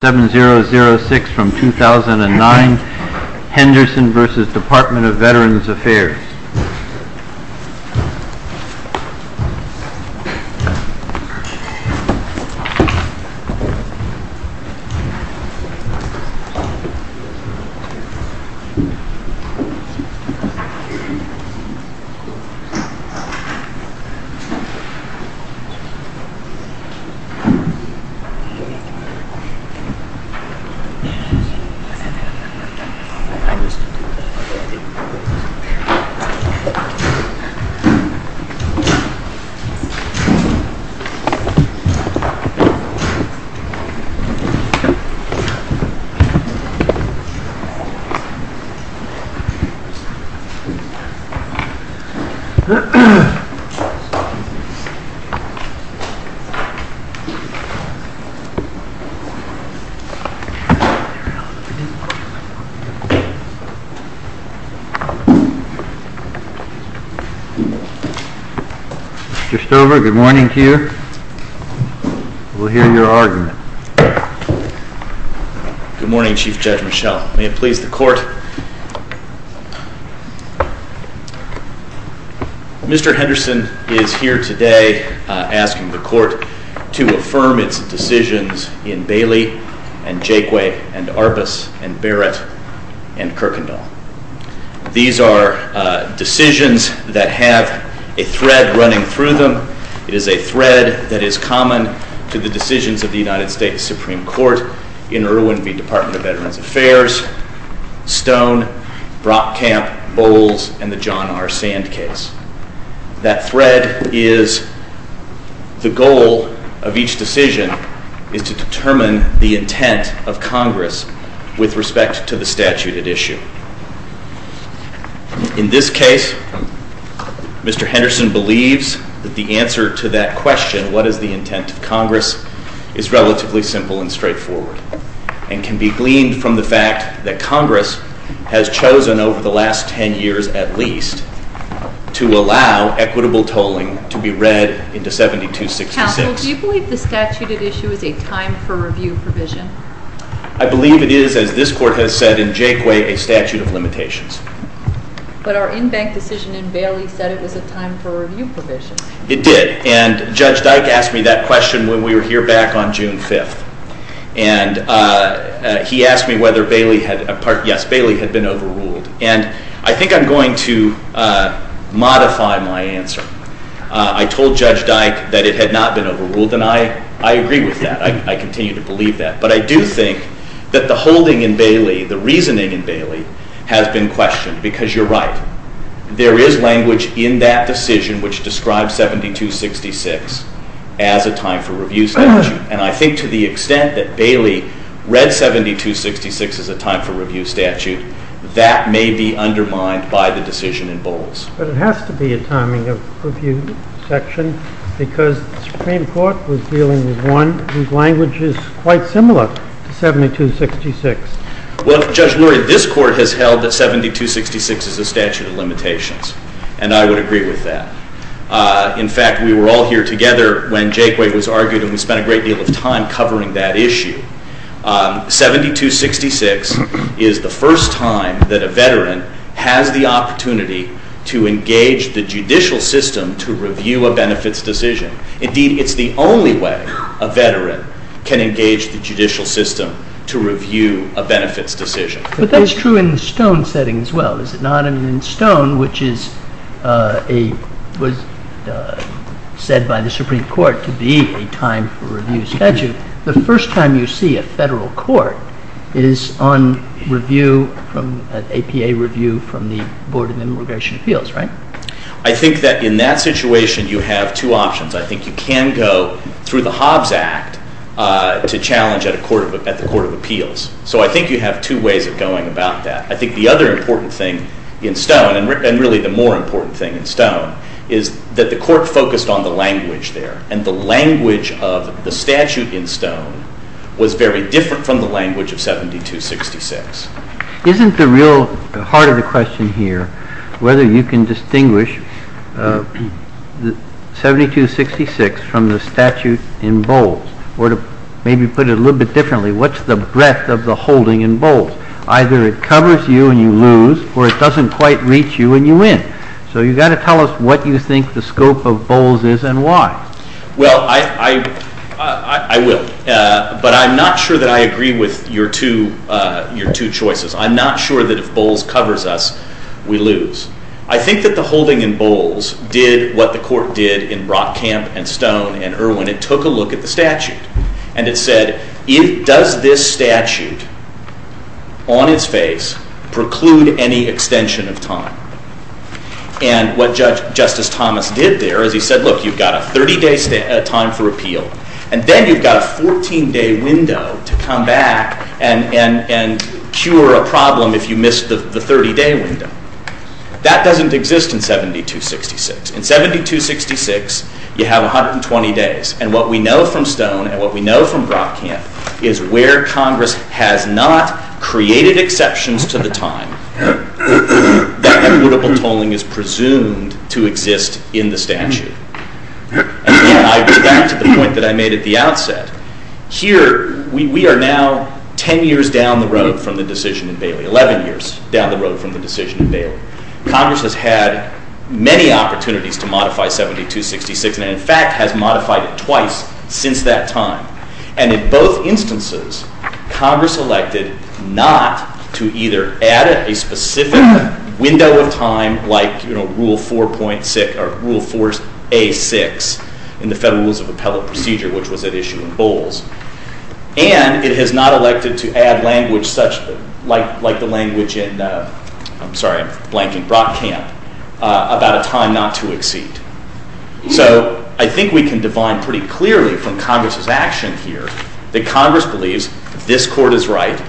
7006 from 2009, Henderson v. Department of Veterans Affairs DVA 7006 from 2009, Henderson v. Department of Veterans Affairs Mr. Stover, good morning to you. We'll hear your argument. Good morning, Chief Judge Michel. May it please the Court, Mr. Henderson is here today asking the Court to affirm its decisions in Bailey, and Jakeway, and Arbus, and Barrett, and Kirkendall. These are decisions that have a thread running through them. It is a thread that is common to the decisions of the United States Supreme Court in Irwin v. Department of Veterans Affairs, Stone, Brockamp, Bowles, and the John R. Sand case. That thread is the goal of each decision is to determine the intent of Congress with respect to the statute at issue. In this case, Mr. Henderson believes that the answer to that question, what is the intent of Congress, is relatively simple and straightforward, and can be gleaned from the fact that Congress has chosen over the last ten years at least to allow equitable tolling to be read into 7266. Counsel, do you believe the statute at issue is a time for review provision? I believe it is, as this Court has said in Jakeway, a statute of limitations. But our in-bank decision in Bailey said it was a time for review provision. It did, and Judge Dyke asked me that question when we were here back on June 5th. And he asked me whether Bailey had been overruled. And I think I'm going to modify my answer. I told Judge Dyke that it had not been overruled, and I agree with that. I continue to believe that. But I do think that the holding in Bailey, the reasoning in Bailey, has been questioned, because you're right. There is language in that decision which describes 7266 as a time for review statute. And I think to the extent that Bailey read 7266 as a time for review statute, that may be undermined by the decision in Bowles. But it has to be a timing of review section, because the Supreme Court was dealing with one whose language is quite similar to 7266. Well, Judge Lurie, this Court has held that 7266 is a statute of limitations, and I would agree with that. In fact, we were all here together when Jakeway was argued, and we spent a great deal of time covering that issue. 7266 is the first time that a veteran has the opportunity to engage the judicial system to review a benefits decision. Indeed, it's the only way a veteran can engage the judicial system to review a benefits decision. But that's true in the Stone setting as well, is it not? In Stone, which was said by the Supreme Court to be a time for review statute, the first time you see a federal court is on review, an APA review from the Board of Immigration Appeals, right? I think that in that situation you have two options. I think you can go through the Hobbs Act to challenge at the Court of Appeals. So I think you have two ways of going about that. I think the other important thing in Stone, and really the more important thing in Stone, is that the Court focused on the language there. And the language of the statute in Stone was very different from the language of 7266. Isn't the real heart of the question here whether you can distinguish 7266 from the statute in Bowles? Or to maybe put it a little bit differently, what's the breadth of the holding in Bowles? Either it covers you and you lose, or it doesn't quite reach you and you win. So you've got to tell us what you think the scope of Bowles is and why. Well, I will. But I'm not sure that I agree with your two choices. I'm not sure that if Bowles covers us, we lose. I think that the holding in Bowles did what the Court did in Rock Camp and Stone and Irwin. It took a look at the statute and it said, does this statute on its face preclude any extension of time? And what Justice Thomas did there is he said, look, you've got a 30-day time for appeal. And then you've got a 14-day window to come back and cure a problem if you miss the 30-day window. That doesn't exist in 7266. In 7266, you have 120 days. And what we know from Stone and what we know from Rock Camp is where Congress has not created exceptions to the time. That equitable tolling is presumed to exist in the statute. Again, I go back to the point that I made at the outset. Here, we are now 10 years down the road from the decision in Bailey, 11 years down the road from the decision in Bailey. Congress has had many opportunities to modify 7266 and, in fact, has modified it twice since that time. And in both instances, Congress elected not to either add a specific window of time like Rule 4.6 or Rule 4A.6 in the Federal Rules of Appellate Procedure, which was at issue in Bowles, and it has not elected to add language such like the language in, I'm sorry, I'm blanking, Rock Camp, about a time not to exceed. So I think we can divine pretty clearly from Congress's action here that Congress believes this Court is right.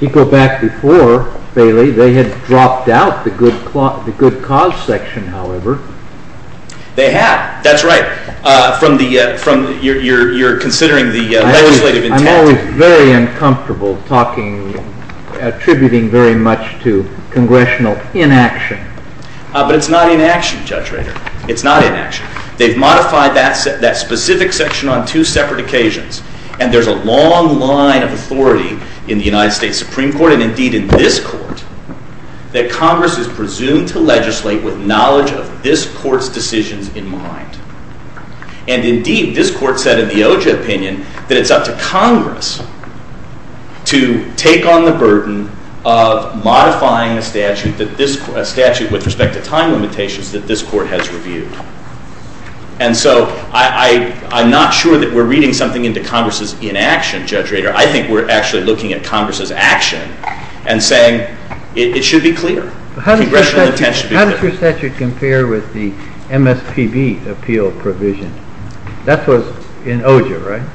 You go back before, Bailey, they had dropped out the good cause section, however. They had. That's right. You're considering the legislative intent. I'm always very uncomfortable talking, attributing very much to congressional inaction. But it's not inaction, Judge Rader. It's not inaction. They've modified that specific section on two separate occasions, and there's a long line of authority in the United States Supreme Court and, indeed, in this Court that Congress is presumed to legislate with knowledge of this Court's decisions in mind. And, indeed, this Court said in the OJA opinion that it's up to Congress to take on the burden of modifying a statute with respect to time limitations that this Court has reviewed. And so I'm not sure that we're reading something into Congress's inaction, Judge Rader. I think we're actually looking at Congress's action and saying it should be clear, congressional intent should be clear. How does your statute compare with the MSPB appeal provision? That was in OJA, right?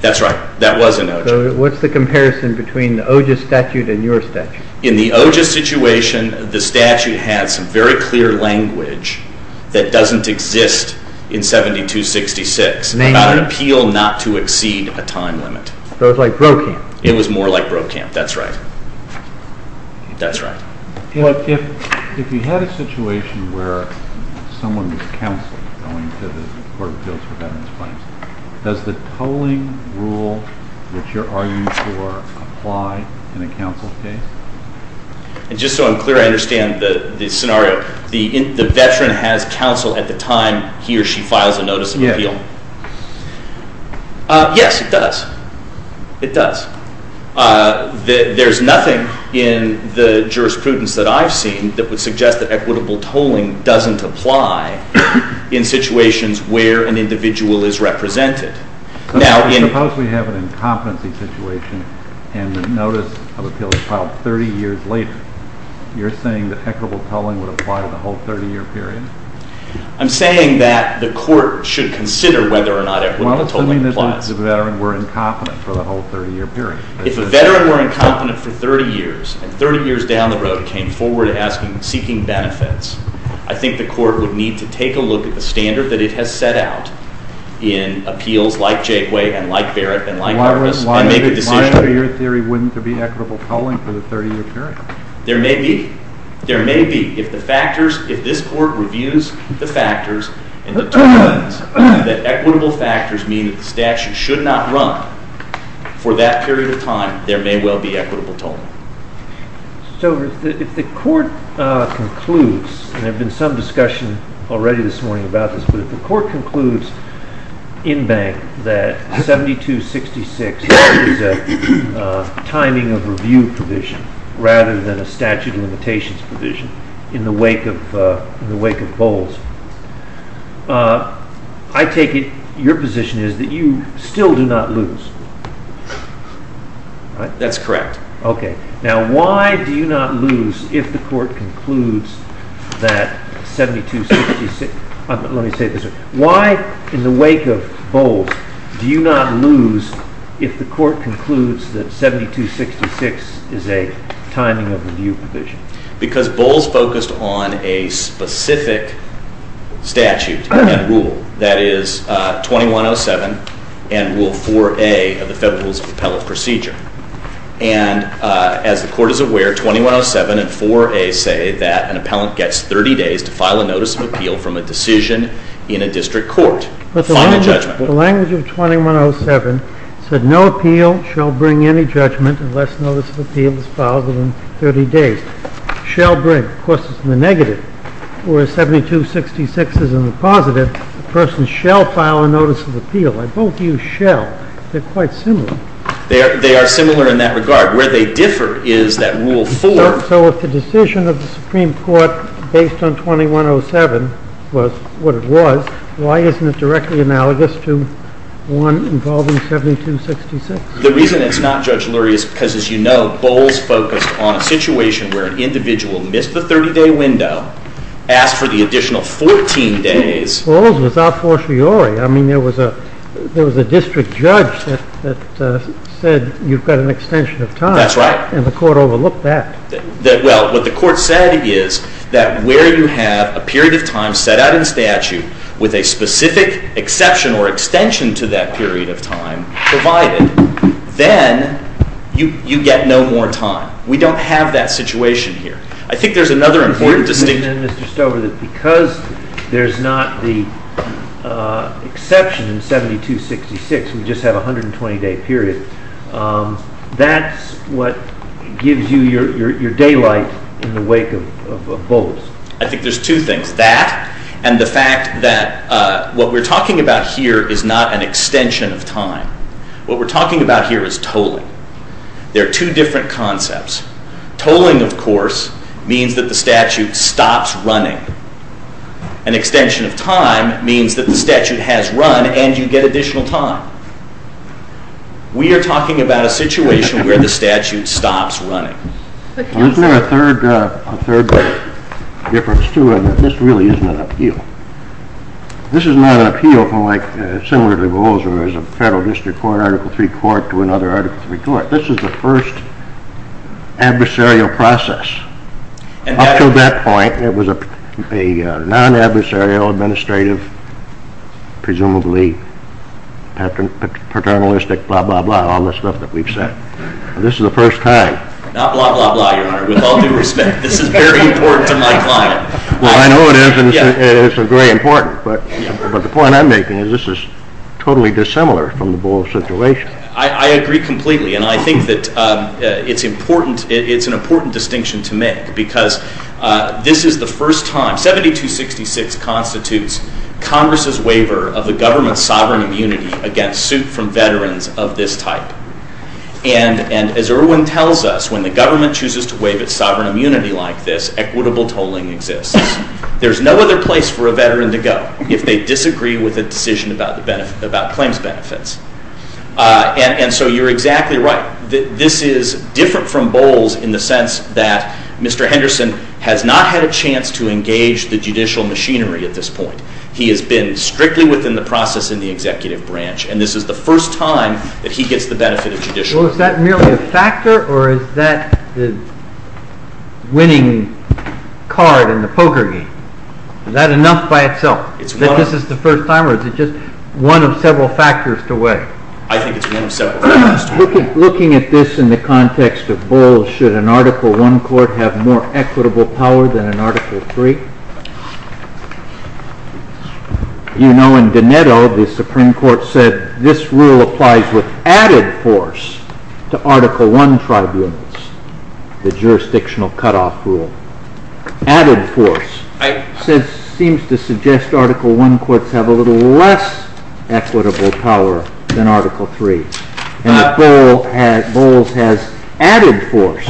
That's right. That was in OJA. So what's the comparison between the OJA statute and your statute? In the OJA situation, the statute has some very clear language that doesn't exist in 7266 about an appeal not to exceed a time limit. So it's like Brokamp. It was more like Brokamp. That's right. That's right. If you had a situation where someone was counseled going to the Court of Appeals for Veterans' Claims, does the tolling rule that you're arguing for apply in a counsel case? Just so I'm clear, I understand the scenario. The veteran has counsel at the time he or she files a notice of appeal. Yes. Yes, it does. It does. There's nothing in the jurisprudence that I've seen that would suggest that equitable tolling doesn't apply in situations where an individual is represented. Suppose we have an incompetency situation and the notice of appeal is filed 30 years later. You're saying that equitable tolling would apply to the whole 30-year period? I'm saying that the Court should consider whether or not equitable tolling applies. Well, assuming that the veteran were incompetent for the whole 30-year period. If a veteran were incompetent for 30 years and 30 years down the road came forward seeking benefits, I think the Court would need to take a look at the standard that it has set out in appeals like Jakeway and like Barrett and like Harvest and make a decision. Why in your theory wouldn't there be equitable tolling for the 30-year period? There may be. There may be. If the factors, if this Court reviews the factors and determines that equitable factors mean that the statute should not run for that period of time, there may well be equitable tolling. So if the Court concludes, and there has been some discussion already this morning about this, but if the Court concludes in bank that 7266 is a timing of review provision rather than a statute of limitations provision in the wake of Bowles, I take it your position is that you still do not lose. That's correct. Okay. Now why do you not lose if the Court concludes that 7266, let me say this, why in the wake of Bowles do you not lose if the Court concludes that 7266 is a timing of review provision? Because Bowles focused on a specific statute and rule. That is 2107 and Rule 4A of the Federal Rules of Appellate Procedure. And as the Court is aware, 2107 and 4A say that an appellant gets 30 days to file a notice of appeal from a decision in a district court. Final judgment. The language of 2107 said no appeal shall bring any judgment unless notice of appeal is filed within 30 days. Shall bring, of course, is in the negative. Whereas 7266 is in the positive. A person shall file a notice of appeal. I both use shall. They're quite similar. They are similar in that regard. Where they differ is that Rule 4. So if the decision of the Supreme Court based on 2107 was what it was, why isn't it directly analogous to one involving 7266? The reason it's not, Judge Lurie, is because, as you know, Bowles focused on a situation where an individual missed the 30-day window, asked for the additional 14 days. Bowles was a fortiori. I mean, there was a district judge that said you've got an extension of time. That's right. And the court overlooked that. Well, what the court said is that where you have a period of time set out in statute with a specific exception or extension to that period of time provided, then you get no more time. We don't have that situation here. I think there's another important distinction. And then, Mr. Stover, that because there's not the exception in 7266, we just have a 120-day period, that's what gives you your daylight in the wake of Bowles. I think there's two things, that and the fact that what we're talking about here is not an extension of time. What we're talking about here is tolling. There are two different concepts. Tolling, of course, means that the statute stops running. An extension of time means that the statute has run and you get additional time. We are talking about a situation where the statute stops running. Isn't there a third difference, too? This really isn't an appeal. This is not an appeal similar to Bowles or as a federal district court, Article III court, to another Article III court. This is the first adversarial process. Up to that point, it was a non-adversarial, administrative, presumably paternalistic, blah, blah, blah, all this stuff that we've said. This is the first time. Not blah, blah, blah, Your Honor. With all due respect, this is very important to my client. Well, I know it is, and it's very important. But the point I'm making is this is totally dissimilar from the Bowles situation. I agree completely, and I think that it's an important distinction to make because this is the first time. 7266 constitutes Congress's waiver of the government's sovereign immunity against suit from veterans of this type. And as Irwin tells us, when the government chooses to waive its sovereign immunity like this, equitable tolling exists. There's no other place for a veteran to go if they disagree with a decision about claims benefits. And so you're exactly right. This is different from Bowles in the sense that Mr. Henderson has not had a chance to engage the judicial machinery at this point. He has been strictly within the process in the executive branch, and this is the first time that he gets the benefit of judicial— Well, is that merely a factor, or is that the winning card in the poker game? Is that enough by itself? That this is the first time, or is it just one of several factors to weigh? I think it's one of several factors to weigh. Looking at this in the context of Bowles, should an Article I court have more equitable power than an Article III? You know in Doneto, the Supreme Court said this rule applies with added force to Article I tribunals, the jurisdictional cutoff rule. Added force seems to suggest Article I courts have a little less equitable power than Article III. And Bowles has added force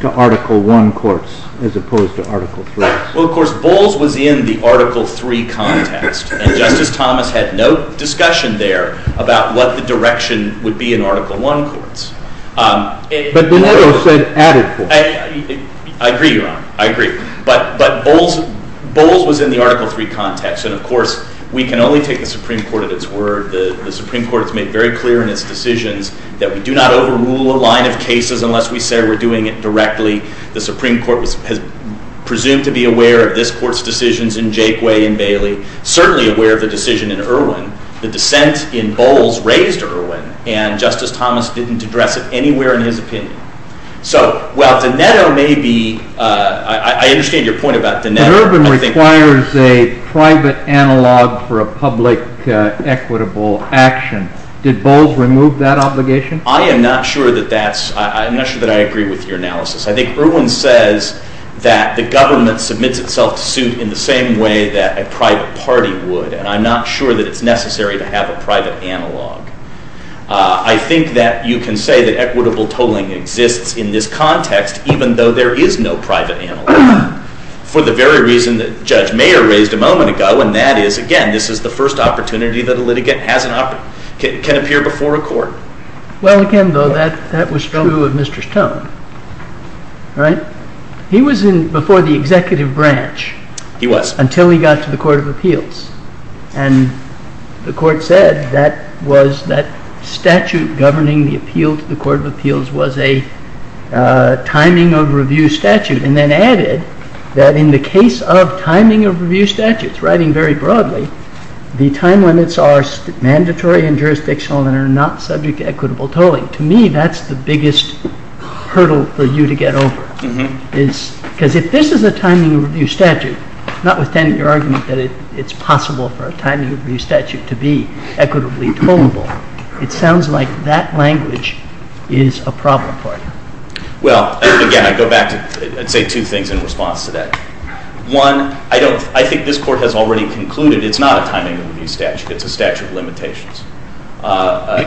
to Article I courts as opposed to Article III. Well, of course, Bowles was in the Article III context, and Justice Thomas had no discussion there about what the direction would be in Article I courts. But Doneto said added force. I agree, Your Honor. I agree. But Bowles was in the Article III context, and of course, we can only take the Supreme Court at its word. The Supreme Court has made very clear in its decisions that we do not overrule a line of cases unless we say we're doing it directly. The Supreme Court was presumed to be aware of this Court's decisions in Jakeway and Bailey, certainly aware of the decision in Irwin. The dissent in Bowles raised Irwin, and Justice Thomas didn't address it anywhere in his opinion. So while Doneto may be – I understand your point about Doneto. But Irwin requires a private analog for a public equitable action. Did Bowles remove that obligation? I am not sure that that's – I'm not sure that I agree with your analysis. I think Irwin says that the government submits itself to suit in the same way that a private party would, and I'm not sure that it's necessary to have a private analog. I think that you can say that equitable tolling exists in this context, even though there is no private analog, for the very reason that Judge Mayer raised a moment ago, and that is, again, this is the first opportunity that a litigant can appear before a court. Well, again, though, that was true of Mr. Stone, right? He was before the executive branch. He was. Until he got to the Court of Appeals. And the Court said that statute governing the appeal to the Court of Appeals was a timing of review statute, and then added that in the case of timing of review statutes, writing very broadly, the time limits are mandatory and jurisdictional and are not subject to equitable tolling. To me, that's the biggest hurdle for you to get over. Because if this is a timing of review statute, notwithstanding your argument that it's possible for a timing of review statute to be equitably tollable, it sounds like that language is a problem for you. Well, again, I'd say two things in response to that. One, I think this Court has already concluded it's not a timing of review statute. It's a statute of limitations.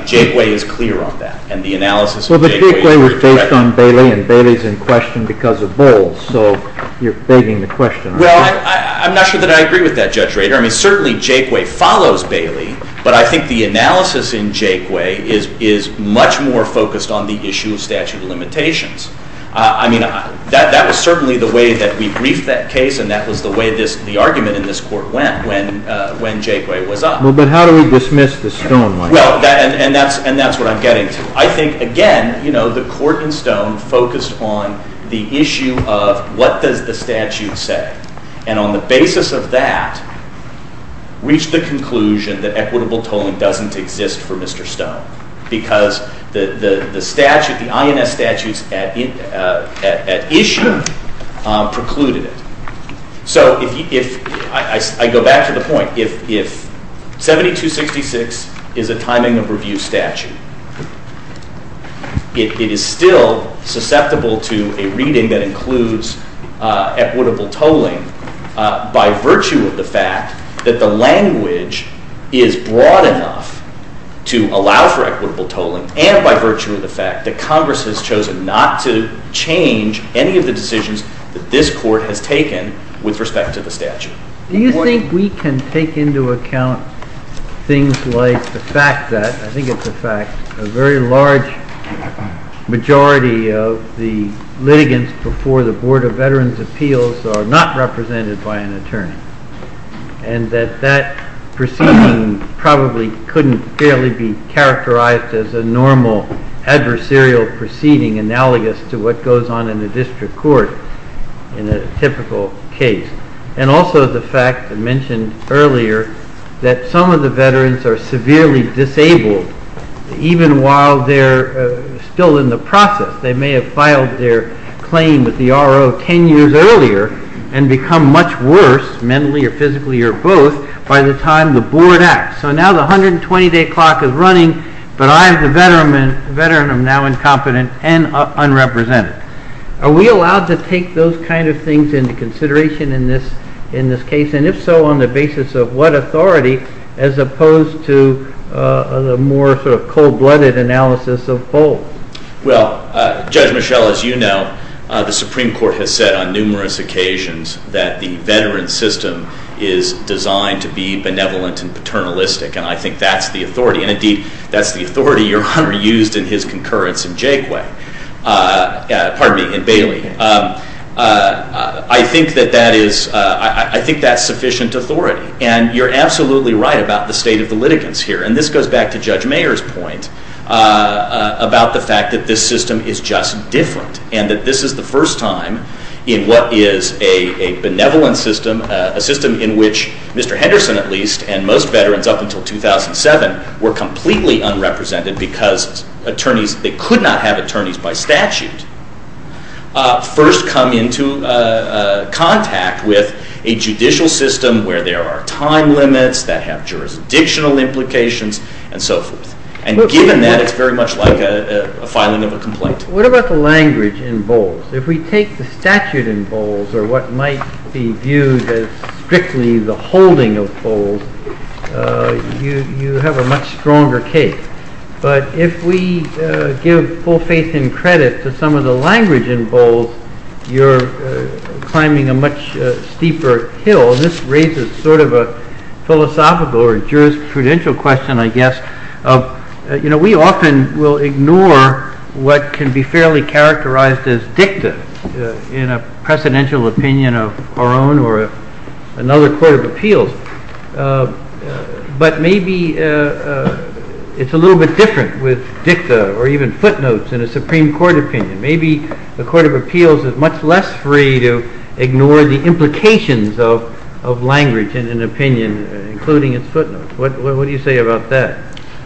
Jake Way is clear on that, and the analysis of Jake Way— You touched on Bailey, and Bailey's in question because of Bowles. So you're begging the question. Well, I'm not sure that I agree with that, Judge Rader. I mean, certainly Jake Way follows Bailey, but I think the analysis in Jake Way is much more focused on the issue of statute of limitations. I mean, that was certainly the way that we briefed that case, and that was the way the argument in this Court went when Jake Way was up. Well, but how do we dismiss the Stone like that? Well, and that's what I'm getting to. I think, again, the Court in Stone focused on the issue of what does the statute say, and on the basis of that, reached the conclusion that equitable tolling doesn't exist for Mr. Stone because the statute, the INS statutes at issue precluded it. So if—I go back to the point. If 7266 is a timing of review statute, it is still susceptible to a reading that includes equitable tolling by virtue of the fact that the language is broad enough to allow for equitable tolling and by virtue of the fact that Congress has chosen not to change any of the decisions that this Court has taken with respect to the statute. Do you think we can take into account things like the fact that—I think it's a fact— a very large majority of the litigants before the Board of Veterans' Appeals are not represented by an attorney and that that proceeding probably couldn't fairly be characterized as a normal adversarial proceeding analogous to what goes on in the district court in a typical case. And also the fact, I mentioned earlier, that some of the veterans are severely disabled even while they're still in the process. They may have filed their claim with the R.O. ten years earlier and become much worse, mentally or physically or both, by the time the Board acts. So now the 120-day clock is running, but I, the veteran, am now incompetent and unrepresented. Are we allowed to take those kinds of things into consideration in this case? And if so, on the basis of what authority as opposed to the more cold-blooded analysis of both? Well, Judge Michel, as you know, the Supreme Court has said on numerous occasions that the veteran system is designed to be benevolent and paternalistic, and I think that's the authority. And indeed, that's the authority Your Honor used in his concurrence in Jakeway— pardon me, in Bailey. I think that that is—I think that's sufficient authority. And you're absolutely right about the state of the litigants here. And this goes back to Judge Mayer's point about the fact that this system is just different and that this is the first time in what is a benevolent system, a system in which Mr. Henderson, at least, and most veterans up until 2007, were completely unrepresented because attorneys—they could not have attorneys by statute— first come into contact with a judicial system where there are time limits that have jurisdictional implications and so forth. And given that, it's very much like a filing of a complaint. What about the language in Bowles? If we take the statute in Bowles or what might be viewed as strictly the holding of Bowles, you have a much stronger case. But if we give full faith and credit to some of the language in Bowles, you're climbing a much steeper hill. This raises sort of a philosophical or jurisprudential question, I guess, of, you know, we often will ignore what can be fairly characterized as dicta in a precedential opinion of our own or another court of appeals. But maybe it's a little bit different with dicta or even footnotes in a Supreme Court opinion. Maybe the court of appeals is much less free to ignore the implications of language in an opinion, including its footnotes. What do you say about that?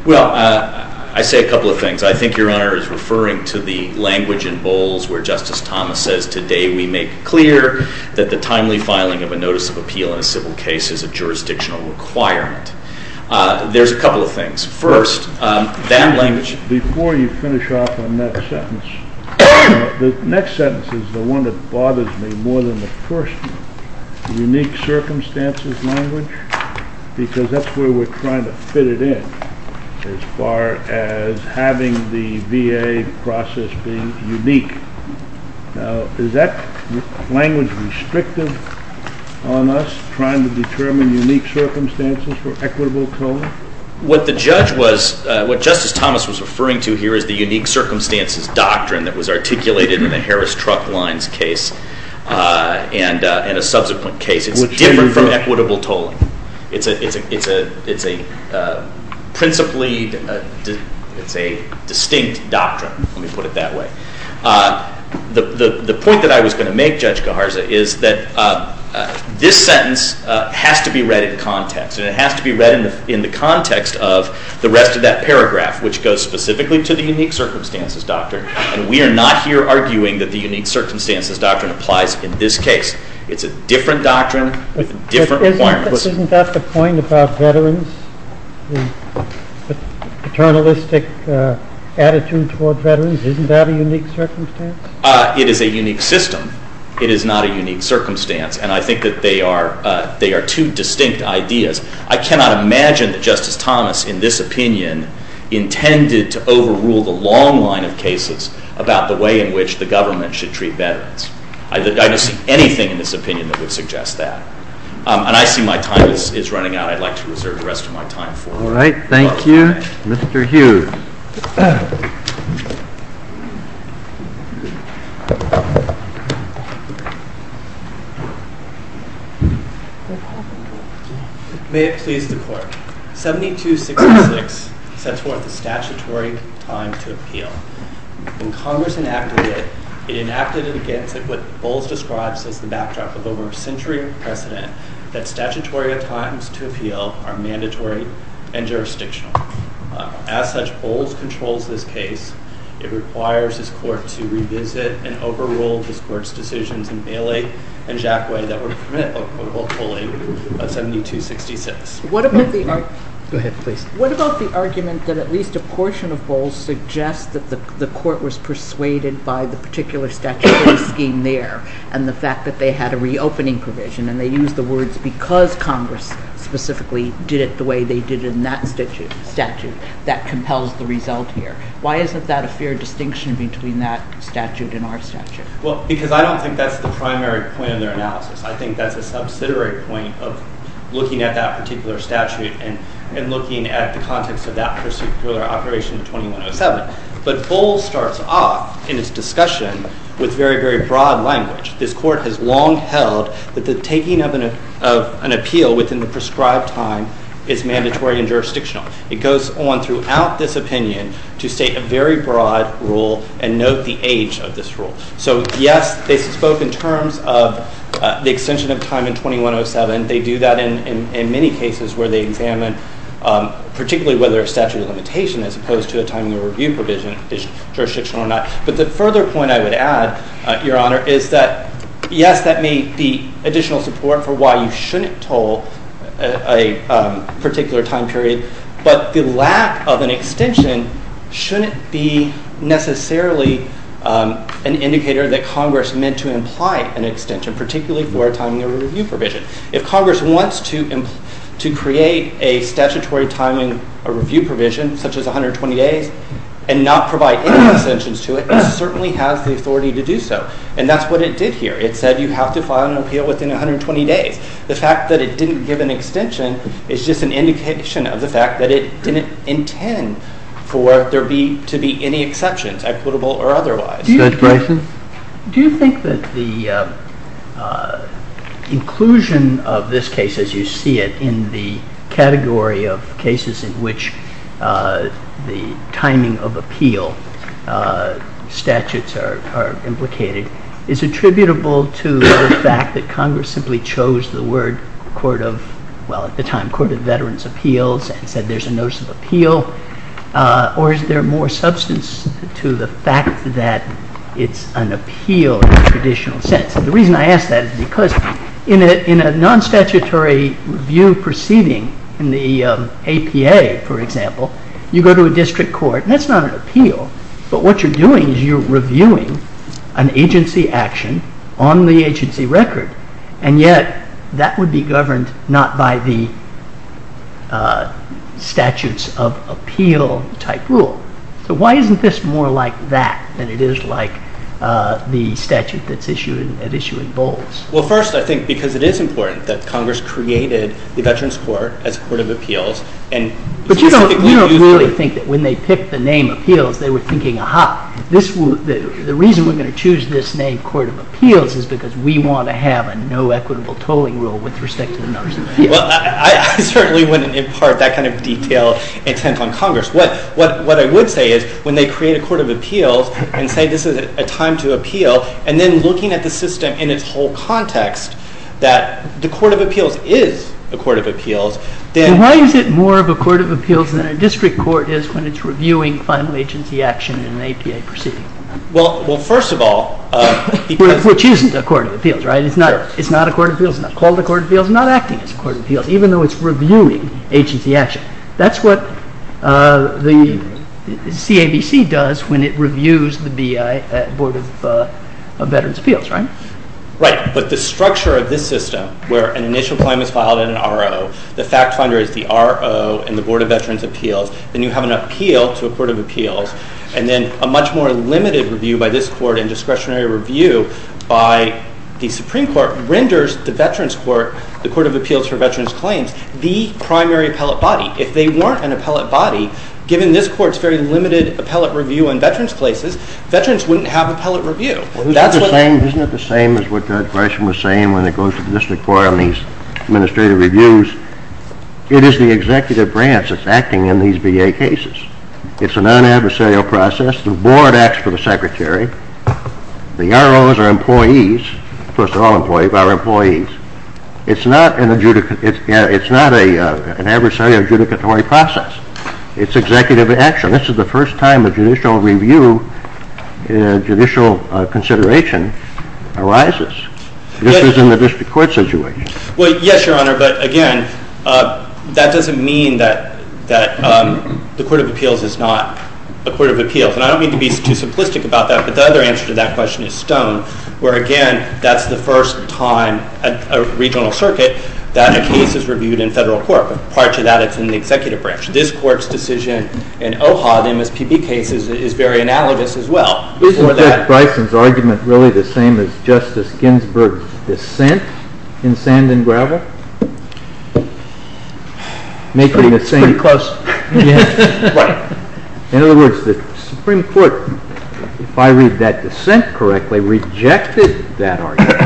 Well, I say a couple of things. I think Your Honor is referring to the language in Bowles where Justice Thomas says, today we make clear that the timely filing of a notice of appeal in a civil case is a jurisdictional requirement. There's a couple of things. First, that language— Before you finish off on that sentence, the next sentence is the one that bothers me more than the first one. The unique circumstances language, because that's where we're trying to fit it in as far as having the VA process being unique. Now, is that language restrictive on us, trying to determine unique circumstances for equitable code? What Justice Thomas was referring to here is the unique circumstances doctrine that was articulated in the Harris Truck Lines case and a subsequent case. It's different from equitable tolling. It's a distinct doctrine, let me put it that way. The point that I was going to make, Judge Gajarza, is that this sentence has to be read in context. And it has to be read in the context of the rest of that paragraph, which goes specifically to the unique circumstances doctrine. And we are not here arguing that the unique circumstances doctrine applies in this case. It's a different doctrine with different requirements. Isn't that the point about veterans? The paternalistic attitude toward veterans, isn't that a unique circumstance? It is a unique system. It is not a unique circumstance. And I think that they are two distinct ideas. I cannot imagine that Justice Thomas, in this opinion, intended to overrule the long line of cases about the way in which the government should treat veterans. I don't see anything in this opinion that would suggest that. And I see my time is running out. I'd like to reserve the rest of my time for it. May it please the Court. 7266 sets forth a statutory time to appeal. When Congress enacted it, it enacted it against what Bowles describes as the backdrop of over a century of precedent that statutory times to appeal are mandatory and jurisdictional. As such, Bowles controls this case. It requires this Court to revisit and overrule this Court's decisions in Bailey and Jackway that would permit a quote-unquote pulling of 7266. What about the argument that at least a portion of Bowles suggests that the Court was persuaded by the particular statutory scheme there and the fact that they had a reopening provision, and they used the words because Congress specifically did it the way they did in that statute, that compels the result here. Why isn't that a fair distinction between that statute and our statute? Well, because I don't think that's the primary point of their analysis. I think that's a subsidiary point of looking at that particular statute and looking at the context of that particular operation of 2107. But Bowles starts off in his discussion with very, very broad language. This Court has long held that the taking of an appeal within the prescribed time is mandatory and jurisdictional. It goes on throughout this opinion to state a very broad rule and note the age of this rule. So, yes, they spoke in terms of the extension of time in 2107. They do that in many cases where they examine particularly whether a statute of limitation as opposed to a time of review provision is jurisdictional or not. But the further point I would add, Your Honor, is that, yes, that may be additional support for why you shouldn't toll a particular time period, but the lack of an extension shouldn't be necessarily an indicator that Congress meant to imply an extension, particularly for a time of review provision. If Congress wants to create a statutory time of review provision, such as 120 days, and not provide any extensions to it, it certainly has the authority to do so. And that's what it did here. It said you have to file an appeal within 120 days. The fact that it didn't give an extension is just an indication of the fact that it didn't intend for there to be any exceptions, equitable or otherwise. Judge Bryson? Do you think that the inclusion of this case, as you see it, in the category of cases in which the timing of appeal statutes are implicated, is attributable to the fact that Congress simply chose the word, well, at the time, and said there's a notice of appeal, or is there more substance to the fact that it's an appeal in the traditional sense? The reason I ask that is because in a non-statutory review proceeding in the APA, for example, you go to a district court, and that's not an appeal, but what you're doing is you're reviewing an agency action on the agency record, and yet that would be governed not by the statutes of appeal type rule. So why isn't this more like that than it is like the statute that's at issue in Bowles? Well, first, I think because it is important that Congress created the Veterans Court as a court of appeals. But you don't really think that when they picked the name appeals, they were thinking, aha, the reason we're going to choose this name, court of appeals, is because we want to have a no equitable tolling rule with respect to the notice of appeal. Well, I certainly wouldn't impart that kind of detailed intent on Congress. What I would say is when they create a court of appeals and say this is a time to appeal, and then looking at the system in its whole context, that the court of appeals is a court of appeals, then— Reviewing final agency action in an APA proceeding. Well, first of all— Which isn't a court of appeals, right? It's not a court of appeals. It's not called a court of appeals. It's not acting as a court of appeals, even though it's reviewing agency action. That's what the CABC does when it reviews the B.I. at Board of Veterans' Appeals, right? Right, but the structure of this system where an initial claim is filed in an RO, the fact finder is the RO in the Board of Veterans' Appeals, then you have an appeal to a court of appeals, and then a much more limited review by this court and discretionary review by the Supreme Court renders the Veterans' Court, the Court of Appeals for Veterans' Claims, the primary appellate body. If they weren't an appellate body, given this court's very limited appellate review on veterans' places, veterans wouldn't have appellate review. Isn't it the same as what Judge Gershom was saying when it goes to the district court on these administrative reviews? It is the executive branch that's acting in these B.A. cases. It's a non-adversarial process. The board acts for the secretary. The ROs are employees, first of all employees, but are employees. It's not an adversarial adjudicatory process. It's executive action. This is the first time a judicial review, judicial consideration arises. This is in the district court situation. Well, yes, Your Honor, but again, that doesn't mean that the court of appeals is not a court of appeals. And I don't mean to be too simplistic about that, but the other answer to that question is stone, where again, that's the first time at a regional circuit that a case is reviewed in federal court. But prior to that, it's in the executive branch. This court's decision in OHA, the MSPB case, is very analogous as well. Isn't Judge Bryson's argument really the same as Justice Ginsburg's dissent in sand and gravel? It's pretty close. In other words, the Supreme Court, if I read that dissent correctly, rejected that argument.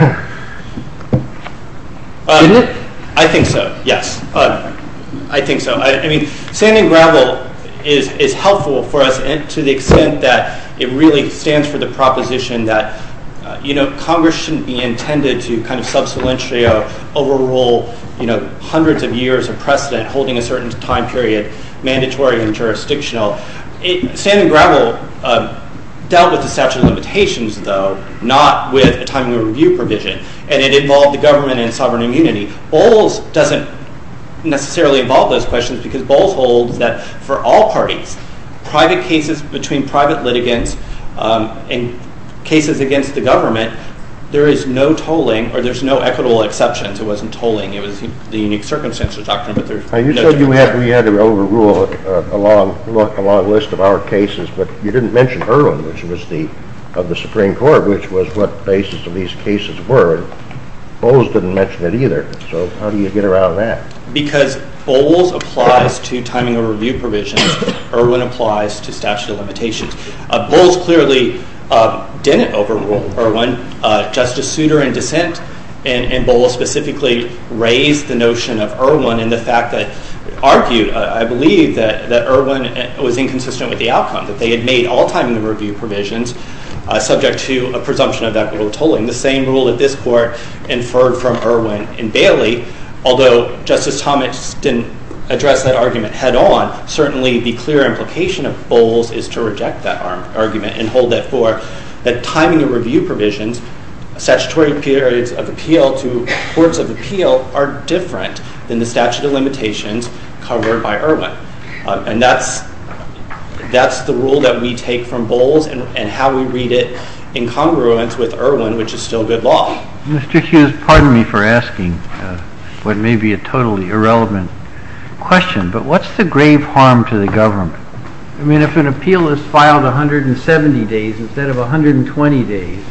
Didn't it? I think so, yes, I think so. I mean, sand and gravel is helpful for us to the extent that it really stands for the proposition that, you know, Congress shouldn't be intended to kind of sub salientio, overrule, you know, hundreds of years of precedent, holding a certain time period mandatory and jurisdictional. Sand and gravel dealt with the statute of limitations, though, not with a timely review provision, and it involved the government and sovereign immunity. Bowles doesn't necessarily involve those questions because Bowles holds that for all parties, private cases between private litigants and cases against the government, there is no tolling, or there's no equitable exceptions. It wasn't tolling. It was the unique circumstances doctrine, but there's no tolling. You said we had to overrule a long list of our cases, but you didn't mention Irwin, which was the Supreme Court, which was what the basis of these cases were. Bowles didn't mention it either. So how do you get around that? Because Bowles applies to timing of review provisions. Irwin applies to statute of limitations. Bowles clearly didn't overrule Irwin. Justice Souter in dissent in Bowles specifically raised the notion of Irwin and the fact that argued, I believe, that Irwin was inconsistent with the outcome, that they had made all timing review provisions subject to a presumption of equitable tolling, the same rule that this Court inferred from Irwin in Bailey. Although Justice Thomas didn't address that argument head on, certainly the clear implication of Bowles is to reject that argument and hold, therefore, that timing of review provisions, statutory periods of appeal to courts of appeal, are different than the statute of limitations covered by Irwin. And that's the rule that we take from Bowles and how we read it in congruence with Irwin, which is still good law. Mr. Hughes, pardon me for asking what may be a totally irrelevant question, but what's the grave harm to the government? I mean, if an appeal is filed 170 days instead of 120 days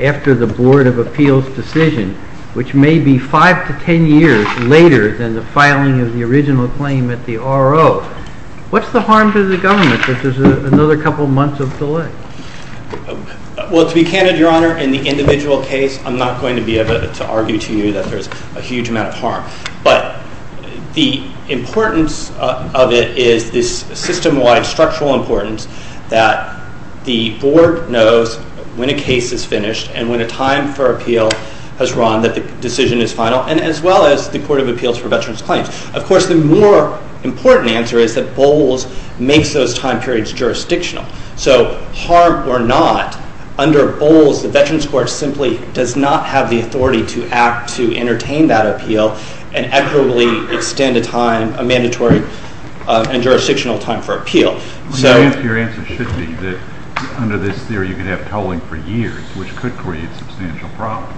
after the Board of Appeals' decision, which may be five to ten years later than the filing of the original claim at the RO, what's the harm to the government that there's another couple months of delay? Well, to be candid, Your Honor, in the individual case, I'm not going to be able to argue to you that there's a huge amount of harm. But the importance of it is this system-wide structural importance that the Board knows when a case is finished and when a time for appeal has run, that the decision is final, and as well as the Court of Appeals for Veterans Claims. Of course, the more important answer is that Bowles makes those time periods jurisdictional. So, harm or not, under Bowles, the Veterans Court simply does not have the authority to act to entertain that appeal and equitably extend a mandatory and jurisdictional time for appeal. Your answer should be that under this theory you could have tolling for years, which could create substantial problems.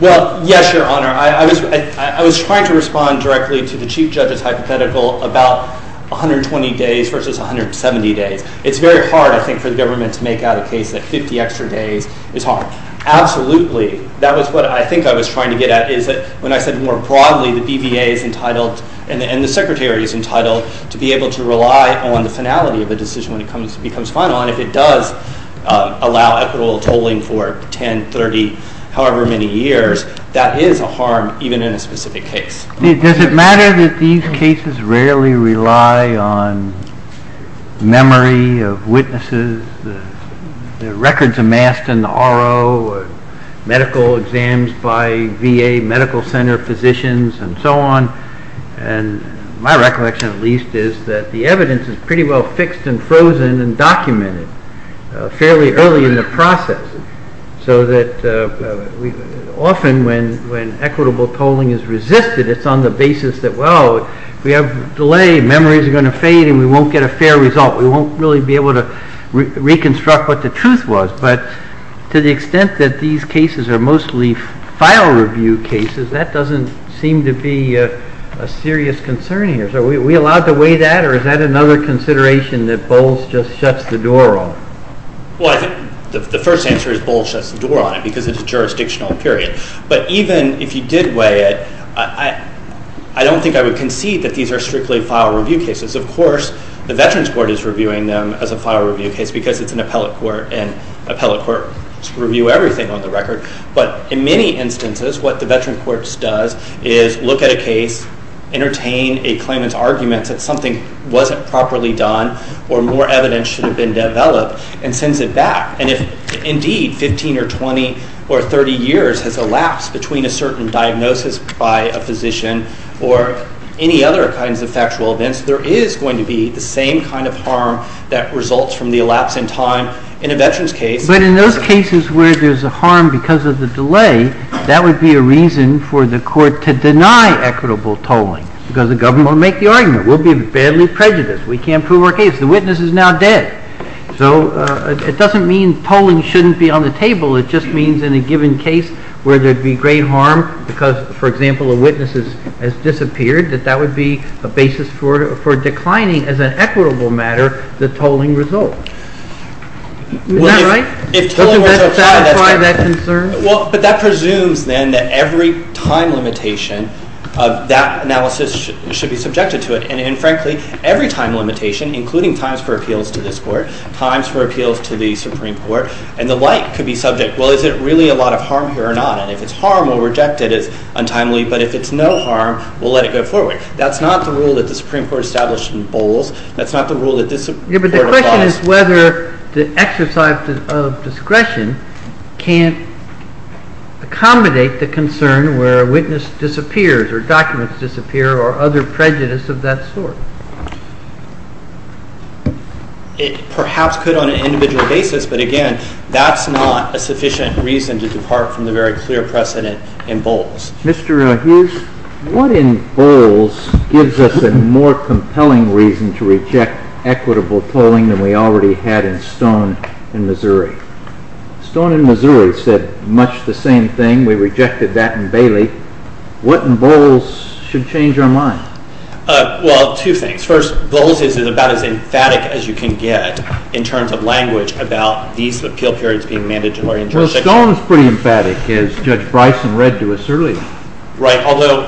Well, yes, Your Honor. I was trying to respond directly to the Chief Judge's hypothetical about 120 days versus 170 days. It's very hard, I think, for the government to make out a case that 50 extra days is harm. Absolutely. That was what I think I was trying to get at, is that when I said more broadly the BVA is entitled and the Secretary is entitled to be able to rely on the finality of a decision when it becomes final, and if it does allow equitable tolling for 10, 30, however many years, that is a harm even in a specific case. Does it matter that these cases rarely rely on memory of witnesses, the records amassed in the RO, medical exams by VA medical center physicians and so on? My recollection, at least, is that the evidence is pretty well fixed and frozen and documented fairly early in the process, so that often when equitable tolling is resisted, it's on the basis that, well, if we have a delay, memory is going to fade and we won't get a fair result. We won't really be able to reconstruct what the truth was. But to the extent that these cases are mostly file review cases, that doesn't seem to be a serious concern here. So are we allowed to weigh that, or is that another consideration that Bowles just shuts the door on? Well, I think the first answer is Bowles shuts the door on it because it's a jurisdictional period. But even if you did weigh it, I don't think I would concede that these are strictly file review cases. Of course, the Veterans Court is reviewing them as a file review case because it's an appellate court and appellate courts review everything on the record. But in many instances, what the Veterans Court does is look at a case, entertain a claimant's argument that something wasn't properly done or more evidence should have been developed, and sends it back. And if, indeed, 15 or 20 or 30 years has elapsed between a certain diagnosis by a physician or any other kinds of factual events, there is going to be the same kind of harm that results from the elapse in time in a veteran's case. But in those cases where there's a harm because of the delay, that would be a reason for the court to deny equitable tolling because the government will make the argument. We'll be badly prejudiced. We can't prove our case. The witness is now dead. So it doesn't mean tolling shouldn't be on the table. It just means in a given case where there'd be great harm because, for example, a witness has disappeared, that that would be a basis for declining as an equitable matter the tolling result. Is that right? Does that satisfy that concern? Well, but that presumes, then, that every time limitation of that analysis should be subjected to it. And, frankly, every time limitation, including times for appeals to this court, times for appeals to the Supreme Court, and the like could be subject. Well, is it really a lot of harm here or not? And if it's harm, we'll reject it as untimely. But if it's no harm, we'll let it go forward. That's not the rule that the Supreme Court established in Bowles. That's not the rule that this court applies. Yeah, but the question is whether the exercise of discretion can't accommodate the concern where a witness disappears or documents disappear or other prejudice of that sort. It perhaps could on an individual basis. But, again, that's not a sufficient reason to depart from the very clear precedent in Bowles. Mr. Hughes, what in Bowles gives us a more compelling reason to reject equitable tolling than we already had in Stone and Missouri? Stone and Missouri said much the same thing. We rejected that in Bailey. What in Bowles should change our mind? Well, two things. First, Bowles is about as emphatic as you can get in terms of language about these appeal periods being mandatory in Georgia. Stone is pretty emphatic, as Judge Bryson read to us earlier. Right, although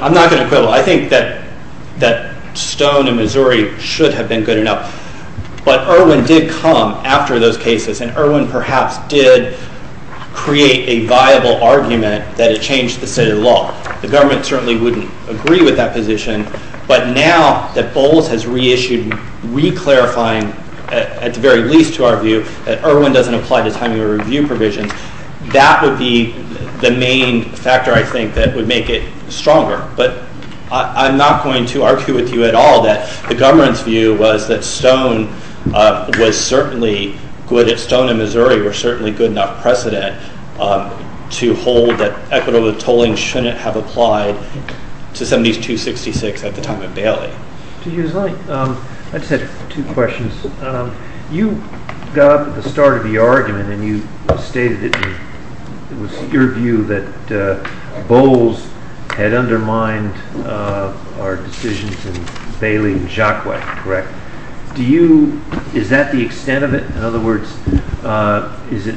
I'm not going to quibble. I think that Stone and Missouri should have been good enough. But Irwin did come after those cases, and Irwin perhaps did create a viable argument that it changed the state of the law. The government certainly wouldn't agree with that position. But now that Bowles has reissued reclarifying, at the very least to our view, that Irwin doesn't apply to time of review provisions, that would be the main factor, I think, that would make it stronger. But I'm not going to argue with you at all that the government's view was that Stone and Missouri were certainly good enough precedent to hold that equitable tolling shouldn't have applied to 7266 at the time of Bailey. I just had two questions. You got up at the start of the argument, and you stated it was your view that Bowles had undermined our decisions in Bailey and Jacquet, correct? Is that the extent of it? In other words, is it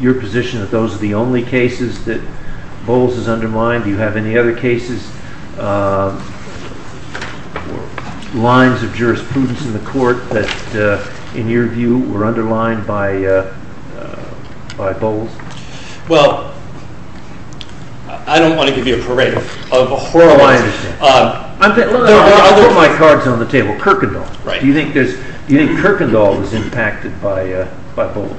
your position that those are the only cases that Bowles has undermined? Do you have any other cases? Lines of jurisprudence in the court that, in your view, were underlined by Bowles? Well, I don't want to give you a parade of horrors. No, I understand. I'll put my cards on the table. Kierkegaard. Do you think Kierkegaard was impacted by Bowles?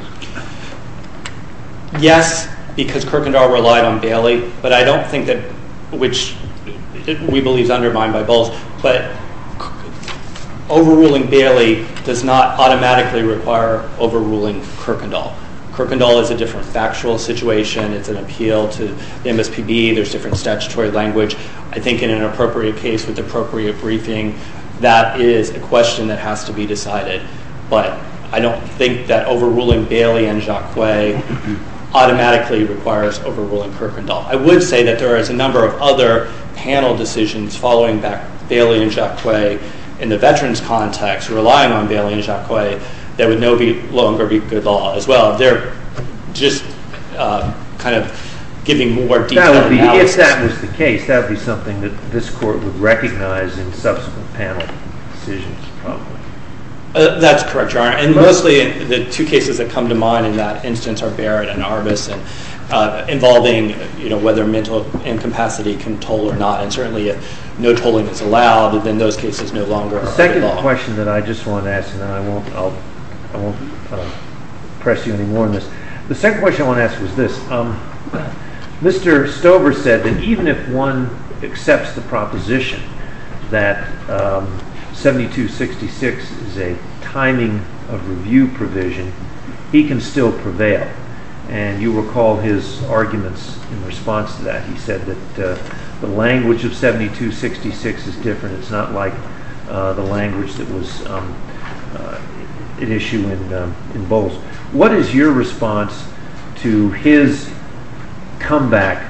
Yes, because Kierkegaard relied on Bailey. But I don't think that, which we believe is undermined by Bowles, but overruling Bailey does not automatically require overruling Kirkendall. Kirkendall is a different factual situation. It's an appeal to the MSPB. There's different statutory language. I think in an appropriate case with appropriate briefing, that is a question that has to be decided. But I don't think that overruling Bailey and Jacquet automatically requires overruling Kirkendall. I would say that there is a number of other panel decisions following Bailey and Jacquet in the veterans context, relying on Bailey and Jacquet, that would no longer be good law as well. They're just kind of giving more detailed analysis. If that was the case, that would be something that this court would recognize in subsequent panel decisions. That's correct, Your Honor. And mostly the two cases that come to mind in that instance are Barrett and Arbus, involving whether mental incapacity can toll or not, and certainly if no tolling is allowed, then those cases no longer are good law. The second question that I just want to ask, and then I won't press you any more on this. The second question I want to ask was this. Mr. Stover said that even if one accepts the proposition that 7266 is a timing of review provision, he can still prevail. And you recall his arguments in response to that. He said that the language of 7266 is different. It's not like the language that was at issue in Bowles. What is your response to his comeback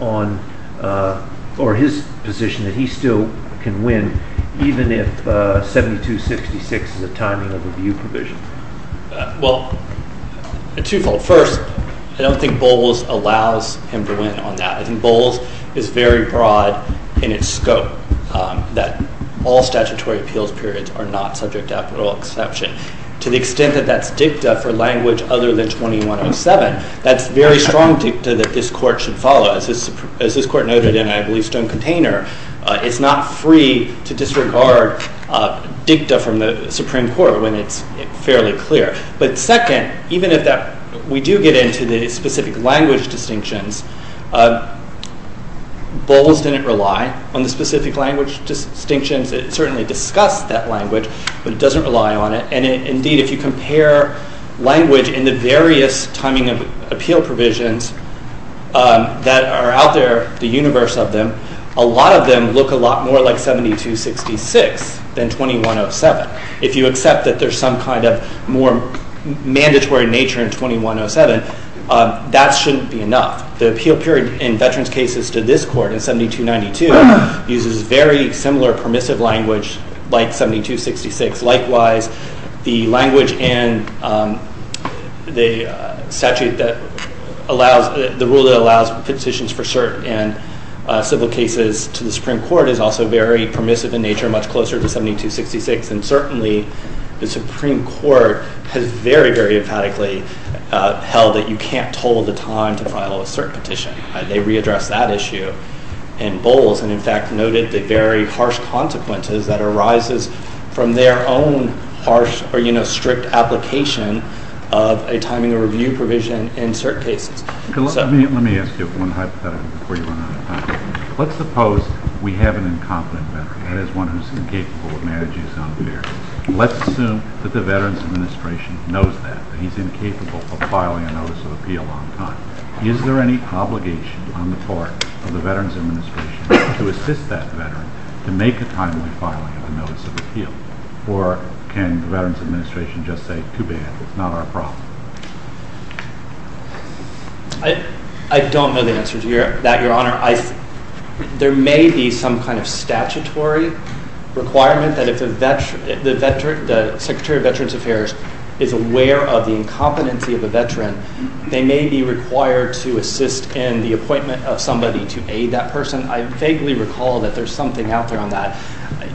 or his position that he still can win even if 7266 is a timing of review provision? Well, twofold. First, I don't think Bowles allows him to win on that. I think Bowles is very broad in its scope, that all statutory appeals periods are not subject to apparel exception. To the extent that that's dicta for language other than 2107, that's very strong dicta that this Court should follow. As this Court noted in, I believe, Stone Container, it's not free to disregard dicta from the Supreme Court when it's fairly clear. But second, even if we do get into the specific language distinctions, Bowles didn't rely on the specific language distinctions. It certainly discussed that language, but it doesn't rely on it. And indeed, if you compare language in the various timing of appeal provisions that are out there, the universe of them, a lot of them look a lot more like 7266 than 2107. If you accept that there's some kind of more mandatory nature in 2107, that shouldn't be enough. The appeal period in veterans' cases to this Court in 7292 uses very similar permissive language like 7266. Likewise, the language in the rule that allows petitions for cert in civil cases to the Supreme Court is also very permissive in nature, much closer to 7266. And certainly the Supreme Court has very, very emphatically held that you can't toll the time to file a cert petition. They readdressed that issue in Bowles and, in fact, noted the very harsh consequences that arises from their own harsh or strict application of a timing of review provision in cert cases. Let me ask you one hypothetical before you run out of time. Let's suppose we have an incompetent veteran, that is, one who is incapable of managing his own affairs. Let's assume that the Veterans Administration knows that, that he's incapable of filing a notice of appeal on time. Is there any obligation on the part of the Veterans Administration to assist that veteran to make a timely filing of a notice of appeal, or can the Veterans Administration just say, too bad, it's not our problem? I don't know the answer to that, Your Honor. There may be some kind of statutory requirement that if the Secretary of Veterans Affairs is aware of the incompetency of a veteran, they may be required to assist in the appointment of somebody to aid that person. I vaguely recall that there's something out there on that.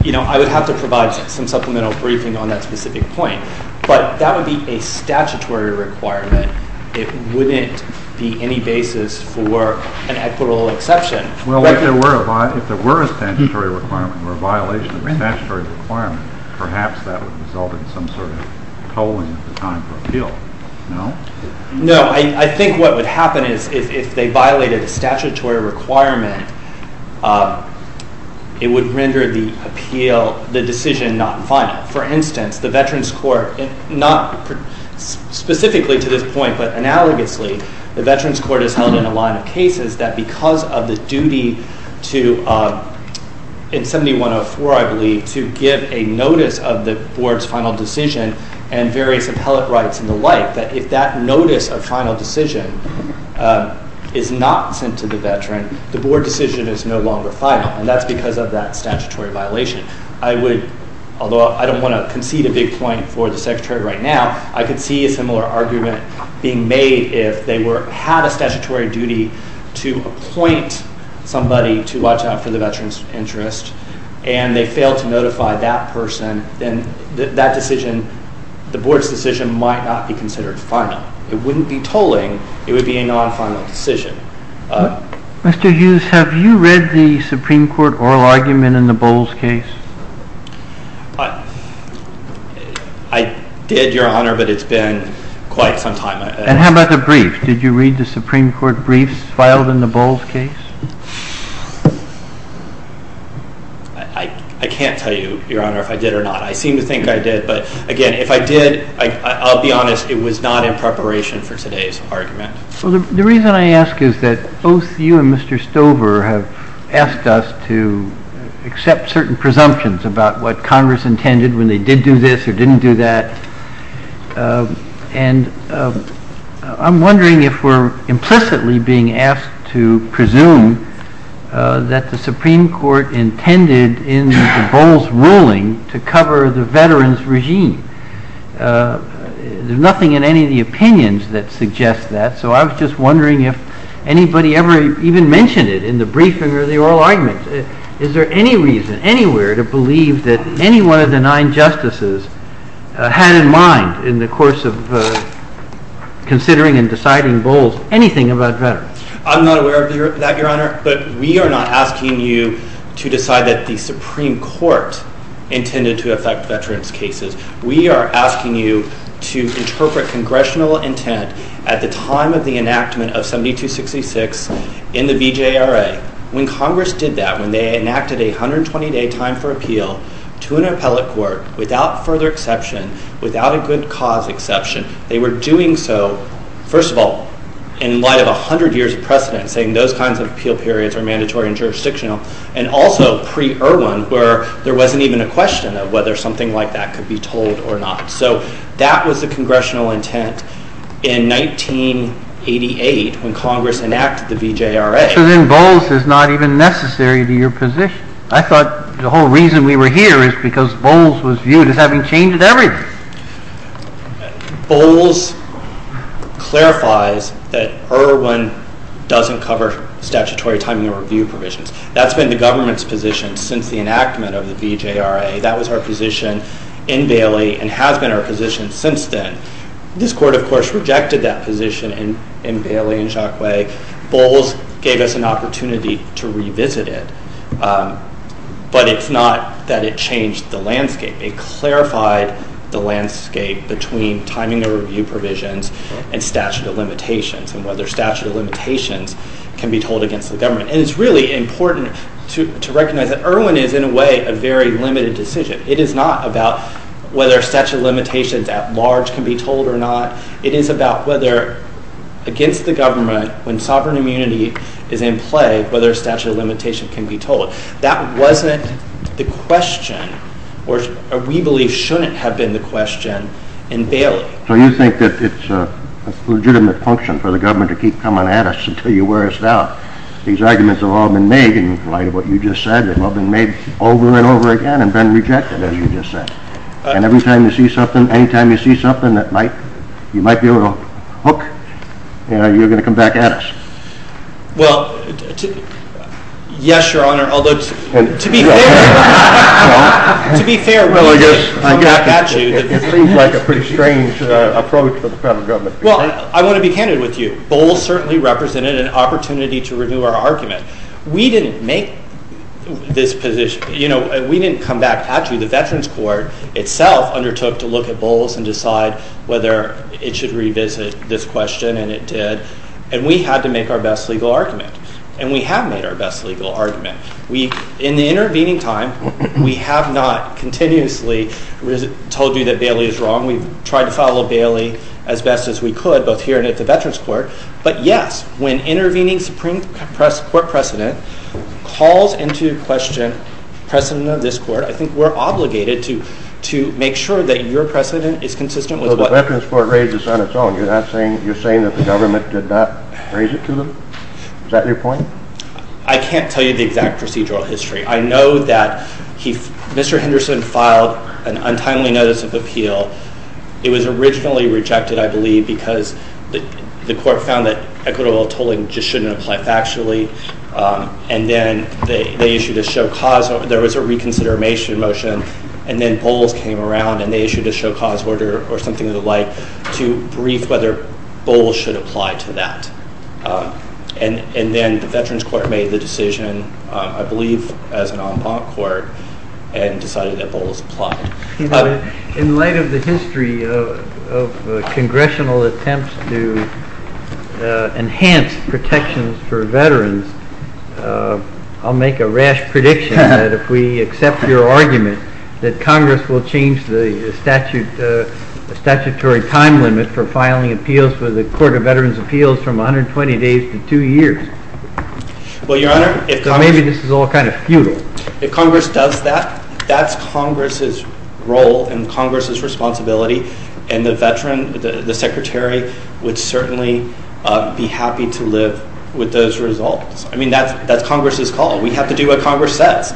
I would have to provide some supplemental briefing on that specific point, but that would be a statutory requirement. It wouldn't be any basis for an equitable exception. Well, if there were a statutory requirement or a violation of a statutory requirement, perhaps that would result in some sort of tolling at the time for appeal. No? No. I think what would happen is if they violated a statutory requirement, it would render the decision not final. For instance, the Veterans Court, not specifically to this point, but analogously, the Veterans Court has held in a line of cases that because of the duty to, in 7104, I believe, to give a notice of the board's final decision and various appellate rights and the like, that if that notice of final decision is not sent to the veteran, the board decision is no longer final, and that's because of that statutory violation. Although I don't want to concede a big point for the Secretary right now, I could see a similar argument being made if they had a statutory duty to appoint somebody to watch out for the veteran's interest and they fail to notify that person, then that decision, the board's decision might not be considered final. It wouldn't be tolling. It would be a non-final decision. Mr. Hughes, have you read the Supreme Court oral argument in the Bowles case? I did, Your Honor, but it's been quite some time. And how about the brief? Did you read the Supreme Court briefs filed in the Bowles case? I can't tell you, Your Honor, if I did or not. I seem to think I did. But, again, if I did, I'll be honest, it was not in preparation for today's argument. Well, the reason I ask is that both you and Mr. Stover have asked us to accept certain presumptions about what Congress intended when they did do this or didn't do that. And I'm wondering if we're implicitly being asked to presume that the Supreme Court intended in the Bowles ruling to cover the veteran's regime. There's nothing in any of the opinions that suggests that, so I was just wondering if anybody ever even mentioned it in the briefing or the oral argument. Is there any reason anywhere to believe that any one of the nine justices had in mind in the course of considering and deciding Bowles anything about veterans? I'm not aware of that, Your Honor, but we are not asking you to decide that the Supreme Court intended to affect veterans' cases. We are asking you to interpret congressional intent at the time of the enactment of 7266 in the BJRA. When Congress did that, when they enacted a 120-day time for appeal to an appellate court without further exception, without a good cause exception, they were doing so, first of all, in light of 100 years of precedent, saying those kinds of appeal periods are mandatory and jurisdictional, and also pre-Irwin, where there wasn't even a question of whether something like that could be told or not. So that was the congressional intent in 1988 when Congress enacted the BJRA. So then Bowles is not even necessary to your position. I thought the whole reason we were here is because Bowles was viewed as having changed everything. Bowles clarifies that Irwin doesn't cover statutory timing of review provisions. That's been the government's position since the enactment of the BJRA. That was our position in Bailey and has been our position since then. This court, of course, rejected that position in Bailey and in Jacque. Bowles gave us an opportunity to revisit it. But it's not that it changed the landscape. It clarified the landscape between timing of review provisions and statute of limitations and whether statute of limitations can be told against the government. And it's really important to recognize that Irwin is, in a way, a very limited decision. It is not about whether statute of limitations at large can be told or not. It is about whether against the government, when sovereign immunity is in play, whether a statute of limitation can be told. That wasn't the question, or we believe shouldn't have been the question, in Bailey. So you think that it's a legitimate function for the government to keep coming at us until you wear us out. These arguments have all been made in light of what you just said. They've all been made over and over again and been rejected, as you just said. And any time you see something that you might be able to hook, you're going to come back at us. Well, yes, Your Honor. Although, to be fair, to be fair, we did come back at you. It seems like a pretty strange approach for the federal government. Well, I want to be candid with you. Bowles certainly represented an opportunity to renew our argument. We didn't make this position. We didn't come back at you. The Veterans Court itself undertook to look at Bowles and decide whether it should revisit this question, and it did. And we had to make our best legal argument, and we have made our best legal argument. In the intervening time, we have not continuously told you that Bailey is wrong. We've tried to follow Bailey as best as we could, both here and at the Veterans Court. But, yes, when intervening Supreme Court precedent calls into question precedent of this court, I think we're obligated to make sure that your precedent is consistent with what— Is that your point? I can't tell you the exact procedural history. I know that Mr. Henderson filed an untimely notice of appeal. It was originally rejected, I believe, because the court found that equitable tolling just shouldn't apply factually, and then they issued a show cause—there was a reconsideration motion, and then Bowles came around and they issued a show cause order or something of the like to brief whether Bowles should apply to that. And then the Veterans Court made the decision, I believe as an en banc court, and decided that Bowles applied. In light of the history of congressional attempts to enhance protections for veterans, I'll make a rash prediction that if we accept your argument, that Congress will change the statutory time limit for filing appeals for the Court of Veterans' Appeals from 120 days to two years. Well, Your Honor— So maybe this is all kind of futile. If Congress does that, that's Congress's role and Congress's responsibility, and the Secretary would certainly be happy to live with those results. I mean, that's Congress's call. We have to do what Congress says.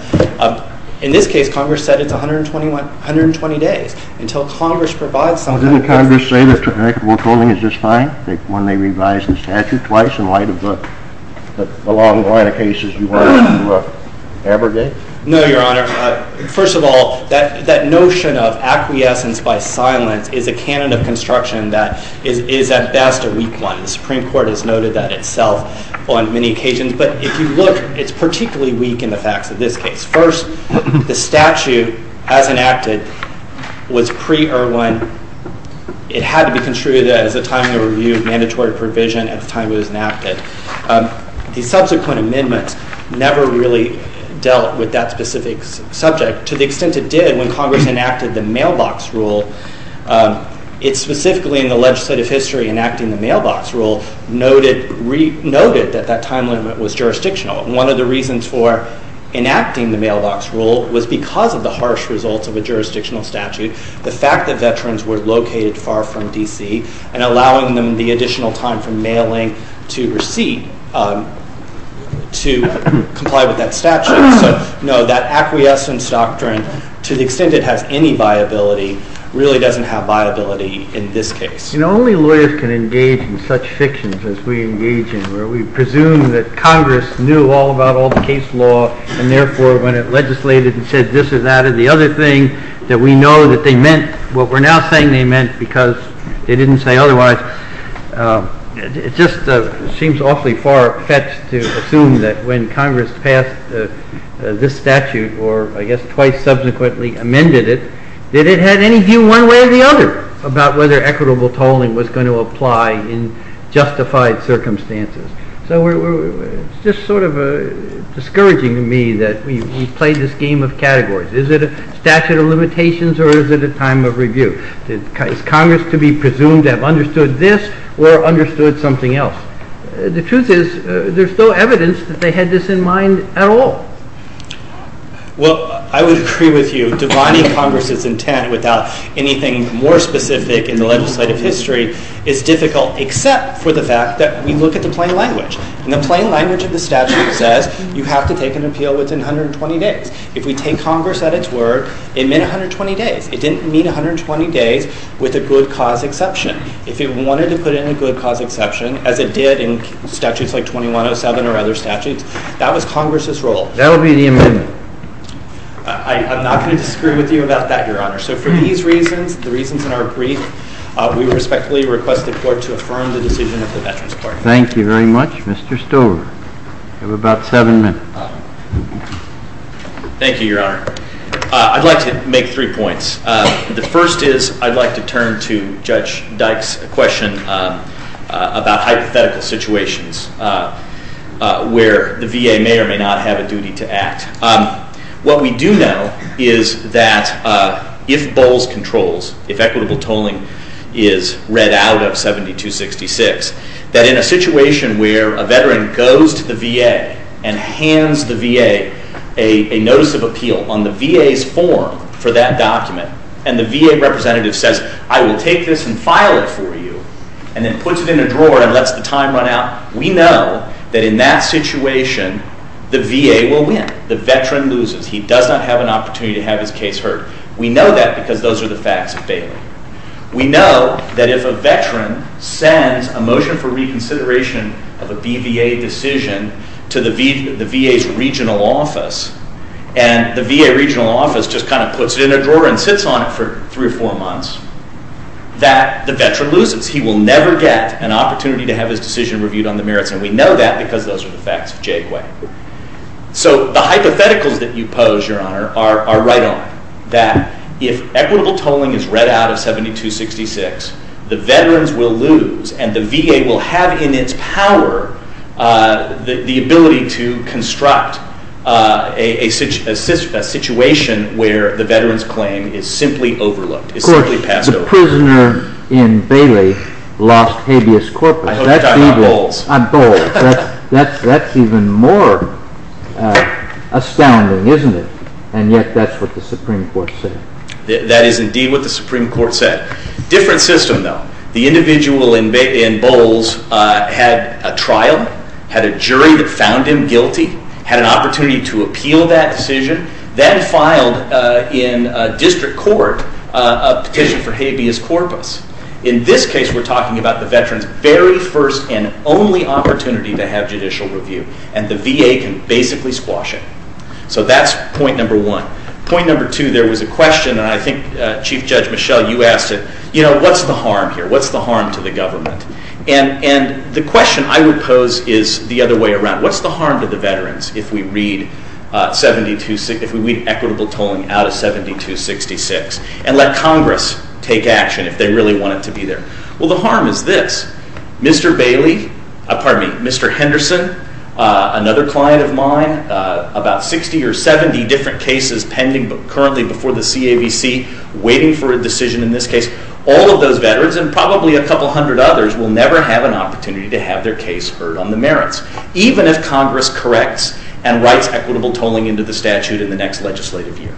In this case, Congress said it's 120 days until Congress provides some kind of— Well, didn't Congress say that equitable tolling is just fine when they revised the statute twice in light of the long line of cases you wanted to abrogate? No, Your Honor. First of all, that notion of acquiescence by silence is a canon of construction that is at best a weak one. The Supreme Court has noted that itself on many occasions. But if you look, it's particularly weak in the facts of this case. First, the statute, as enacted, was pre-Irwin. It had to be construed as a timely review of mandatory provision at the time it was enacted. The subsequent amendments never really dealt with that specific subject to the extent it did when Congress enacted the mailbox rule. It specifically, in the legislative history enacting the mailbox rule, noted that that time limit was jurisdictional. One of the reasons for enacting the mailbox rule was because of the harsh results of a jurisdictional statute, the fact that veterans were located far from D.C., and allowing them the additional time from mailing to receipt to comply with that statute. So, no, that acquiescence doctrine, to the extent it has any viability, really doesn't have viability in this case. You know, only lawyers can engage in such fictions as we engage in, where we presume that Congress knew all about all the case law, and therefore when it legislated and said this or that or the other thing, that we know that they meant what we're now saying they meant because they didn't say otherwise, it just seems awfully far-fetched to assume that when Congress passed this statute, or I guess twice subsequently amended it, that it had any view one way or the other about whether equitable tolling was going to apply in justified circumstances. So it's just sort of discouraging to me that we play this game of categories. Is it a statute of limitations or is it a time of review? Is Congress to be presumed to have understood this or understood something else? The truth is, there's no evidence that they had this in mind at all. Well, I would agree with you. Defying Congress's intent without anything more specific in the legislative history is difficult, except for the fact that we look at the plain language. And the plain language of the statute says you have to take an appeal within 120 days. If we take Congress at its word, it meant 120 days. It didn't mean 120 days with a good cause exception. If it wanted to put in a good cause exception, as it did in statutes like 2107 or other statutes, that was Congress's role. That will be the amendment. I'm not going to disagree with you about that, Your Honor. So for these reasons, the reasons in our brief, we respectfully request the Court to affirm the decision of the Veterans Court. Thank you very much, Mr. Stover. You have about seven minutes. Thank you, Your Honor. I'd like to make three points. The first is I'd like to turn to Judge Dyke's question about hypothetical situations where the VA may or may not have a duty to act. What we do know is that if Bowles controls, if equitable tolling is read out of 7266, that in a situation where a Veteran goes to the VA and hands the VA a notice of appeal on the VA's form for that document, and the VA representative says, I will take this and file it for you, and then puts it in a drawer and lets the time run out, we know that in that situation the VA will win. The Veteran loses. He does not have an opportunity to have his case heard. We know that because those are the facts of Baylor. We know that if a Veteran sends a motion for reconsideration of a BVA decision to the VA's regional office, and the VA regional office just kind of puts it in a drawer and sits on it for three or four months, that the Veteran loses. He will never get an opportunity to have his decision reviewed on the merits, and we know that because those are the facts of Jaguar. So the hypotheticals that you pose, Your Honor, are right on, that if equitable tolling is read out of 7266, the Veterans will lose, and the VA will have in its power the ability to construct a situation where the Veteran's claim is simply overlooked, is simply passed over. Of course, the prisoner in Bailey lost habeas corpus. I hope you are not bold. I'm bold. That's even more astounding, isn't it? And yet that's what the Supreme Court said. That is indeed what the Supreme Court said. Different system, though. The individual in Bowles had a trial, had a jury that found him guilty, had an opportunity to appeal that decision, then filed in district court a petition for habeas corpus. In this case, we're talking about the Veteran's very first and only opportunity to have judicial review, and the VA can basically squash it. So that's point number one. Point number two, there was a question, and I think Chief Judge Michel, you asked it. You know, what's the harm here? What's the harm to the government? And the question I would pose is the other way around. What's the harm to the Veterans if we read equitable tolling out of 7266 and let Congress take action if they really wanted to be there? Well, the harm is this. Mr. Bailey, pardon me, Mr. Henderson, another client of mine, about 60 or 70 different cases pending currently before the CAVC waiting for a decision in this case. All of those Veterans, and probably a couple hundred others, will never have an opportunity to have their case heard on the merits, even if Congress corrects and writes equitable tolling into the statute in the next legislative year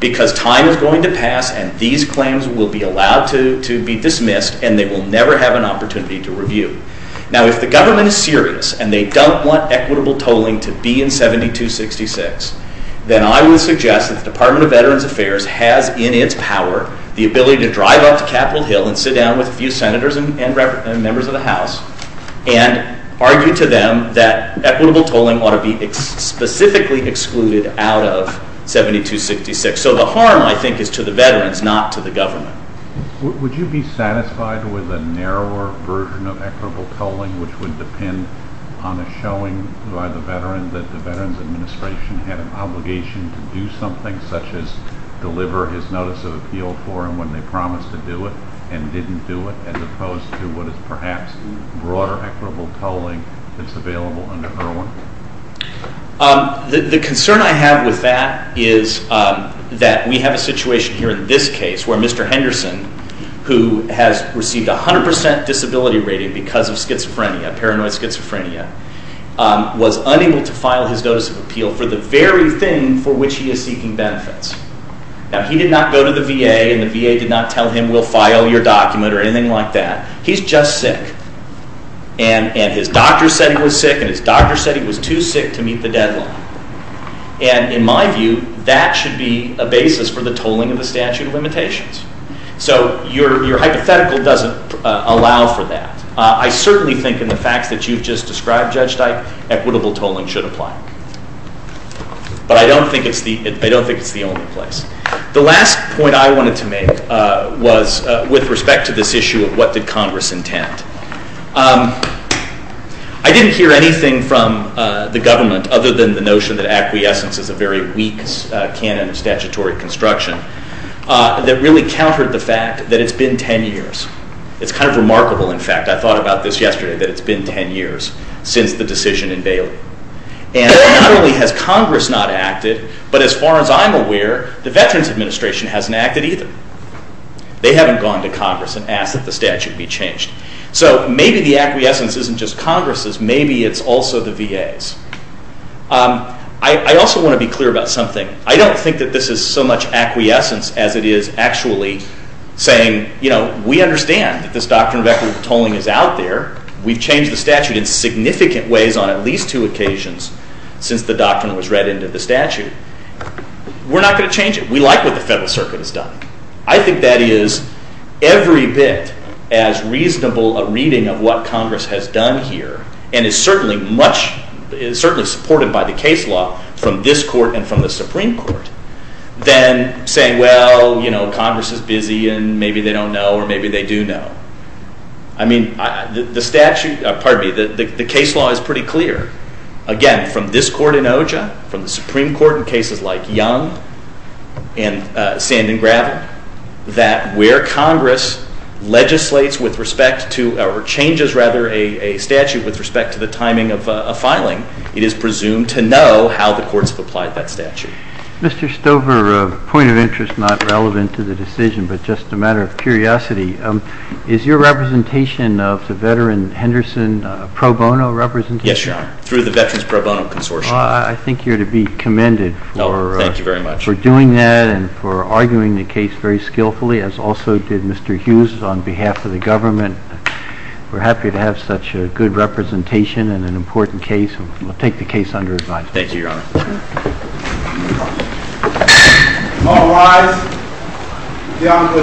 because time is going to pass and these claims will be allowed to be dismissed and they will never have an opportunity to review. Now, if the government is serious and they don't want equitable tolling to be in 7266, then I would suggest that the Department of Veterans Affairs has in its power the ability to drive up to Capitol Hill and sit down with a few senators and members of the House and argue to them that equitable tolling ought to be specifically excluded out of 7266. So the harm, I think, is to the Veterans, not to the government. Would you be satisfied with a narrower version of equitable tolling, which would depend on a showing by the Veteran that the Veterans Administration had an obligation to do something such as deliver his notice of appeal for him when they promised to do it and didn't do it as opposed to what is perhaps broader equitable tolling that's available under Irwin? The concern I have with that is that we have a situation here in this case where Mr. Henderson, who has received a 100% disability rating because of schizophrenia, paranoid schizophrenia, was unable to file his notice of appeal for the very thing for which he is seeking benefits. Now, he did not go to the VA, and the VA did not tell him, we'll file your document or anything like that. He's just sick. And his doctor said he was sick, and his doctor said he was too sick to meet the deadline. And in my view, that should be a basis for the tolling of the statute of limitations. So your hypothetical doesn't allow for that. I certainly think in the facts that you've just described, Judge Dike, equitable tolling should apply. But I don't think it's the only place. The last point I wanted to make was with respect to this issue of what did Congress intend. I didn't hear anything from the government other than the notion that acquiescence is a very weak canon of statutory construction that really countered the fact that it's been 10 years. It's kind of remarkable, in fact. I thought about this yesterday, that it's been 10 years since the decision in Bailey. And not only has Congress not acted, but as far as I'm aware, the Veterans Administration hasn't acted either. They haven't gone to Congress and asked that the statute be changed. So maybe the acquiescence isn't just Congress's. Maybe it's also the VA's. I also want to be clear about something. I don't think that this is so much acquiescence as it is actually saying, you know, we understand that this doctrine of equitable tolling is out there. We've changed the statute in significant ways on at least two occasions since the doctrine was read into the statute. We're not going to change it. We like what the Federal Circuit has done. I think that is every bit as reasonable a reading of what Congress has done here, and is certainly supported by the case law from this court and from the Supreme Court, than saying, well, you know, Congress is busy and maybe they don't know or maybe they do know. I mean, the statute, pardon me, the case law is pretty clear. Again, from this court in OJA, from the Supreme Court in cases like Young and Sand and Gravel, that where Congress legislates with respect to, or changes rather, a statute with respect to the timing of a filing, it is presumed to know how the courts have applied that statute. Mr. Stover, a point of interest not relevant to the decision, but just a matter of curiosity. Is your representation of the veteran Henderson pro bono representation? Yes, Your Honor, through the Veterans Pro Bono Consortium. I think you're to be commended for doing that and for arguing the case very skillfully, as also did Mr. Hughes on behalf of the government. We're happy to have such a good representation in an important case. We'll take the case under advisory. Thank you, Your Honor. All rise. The Honorable is adjourned.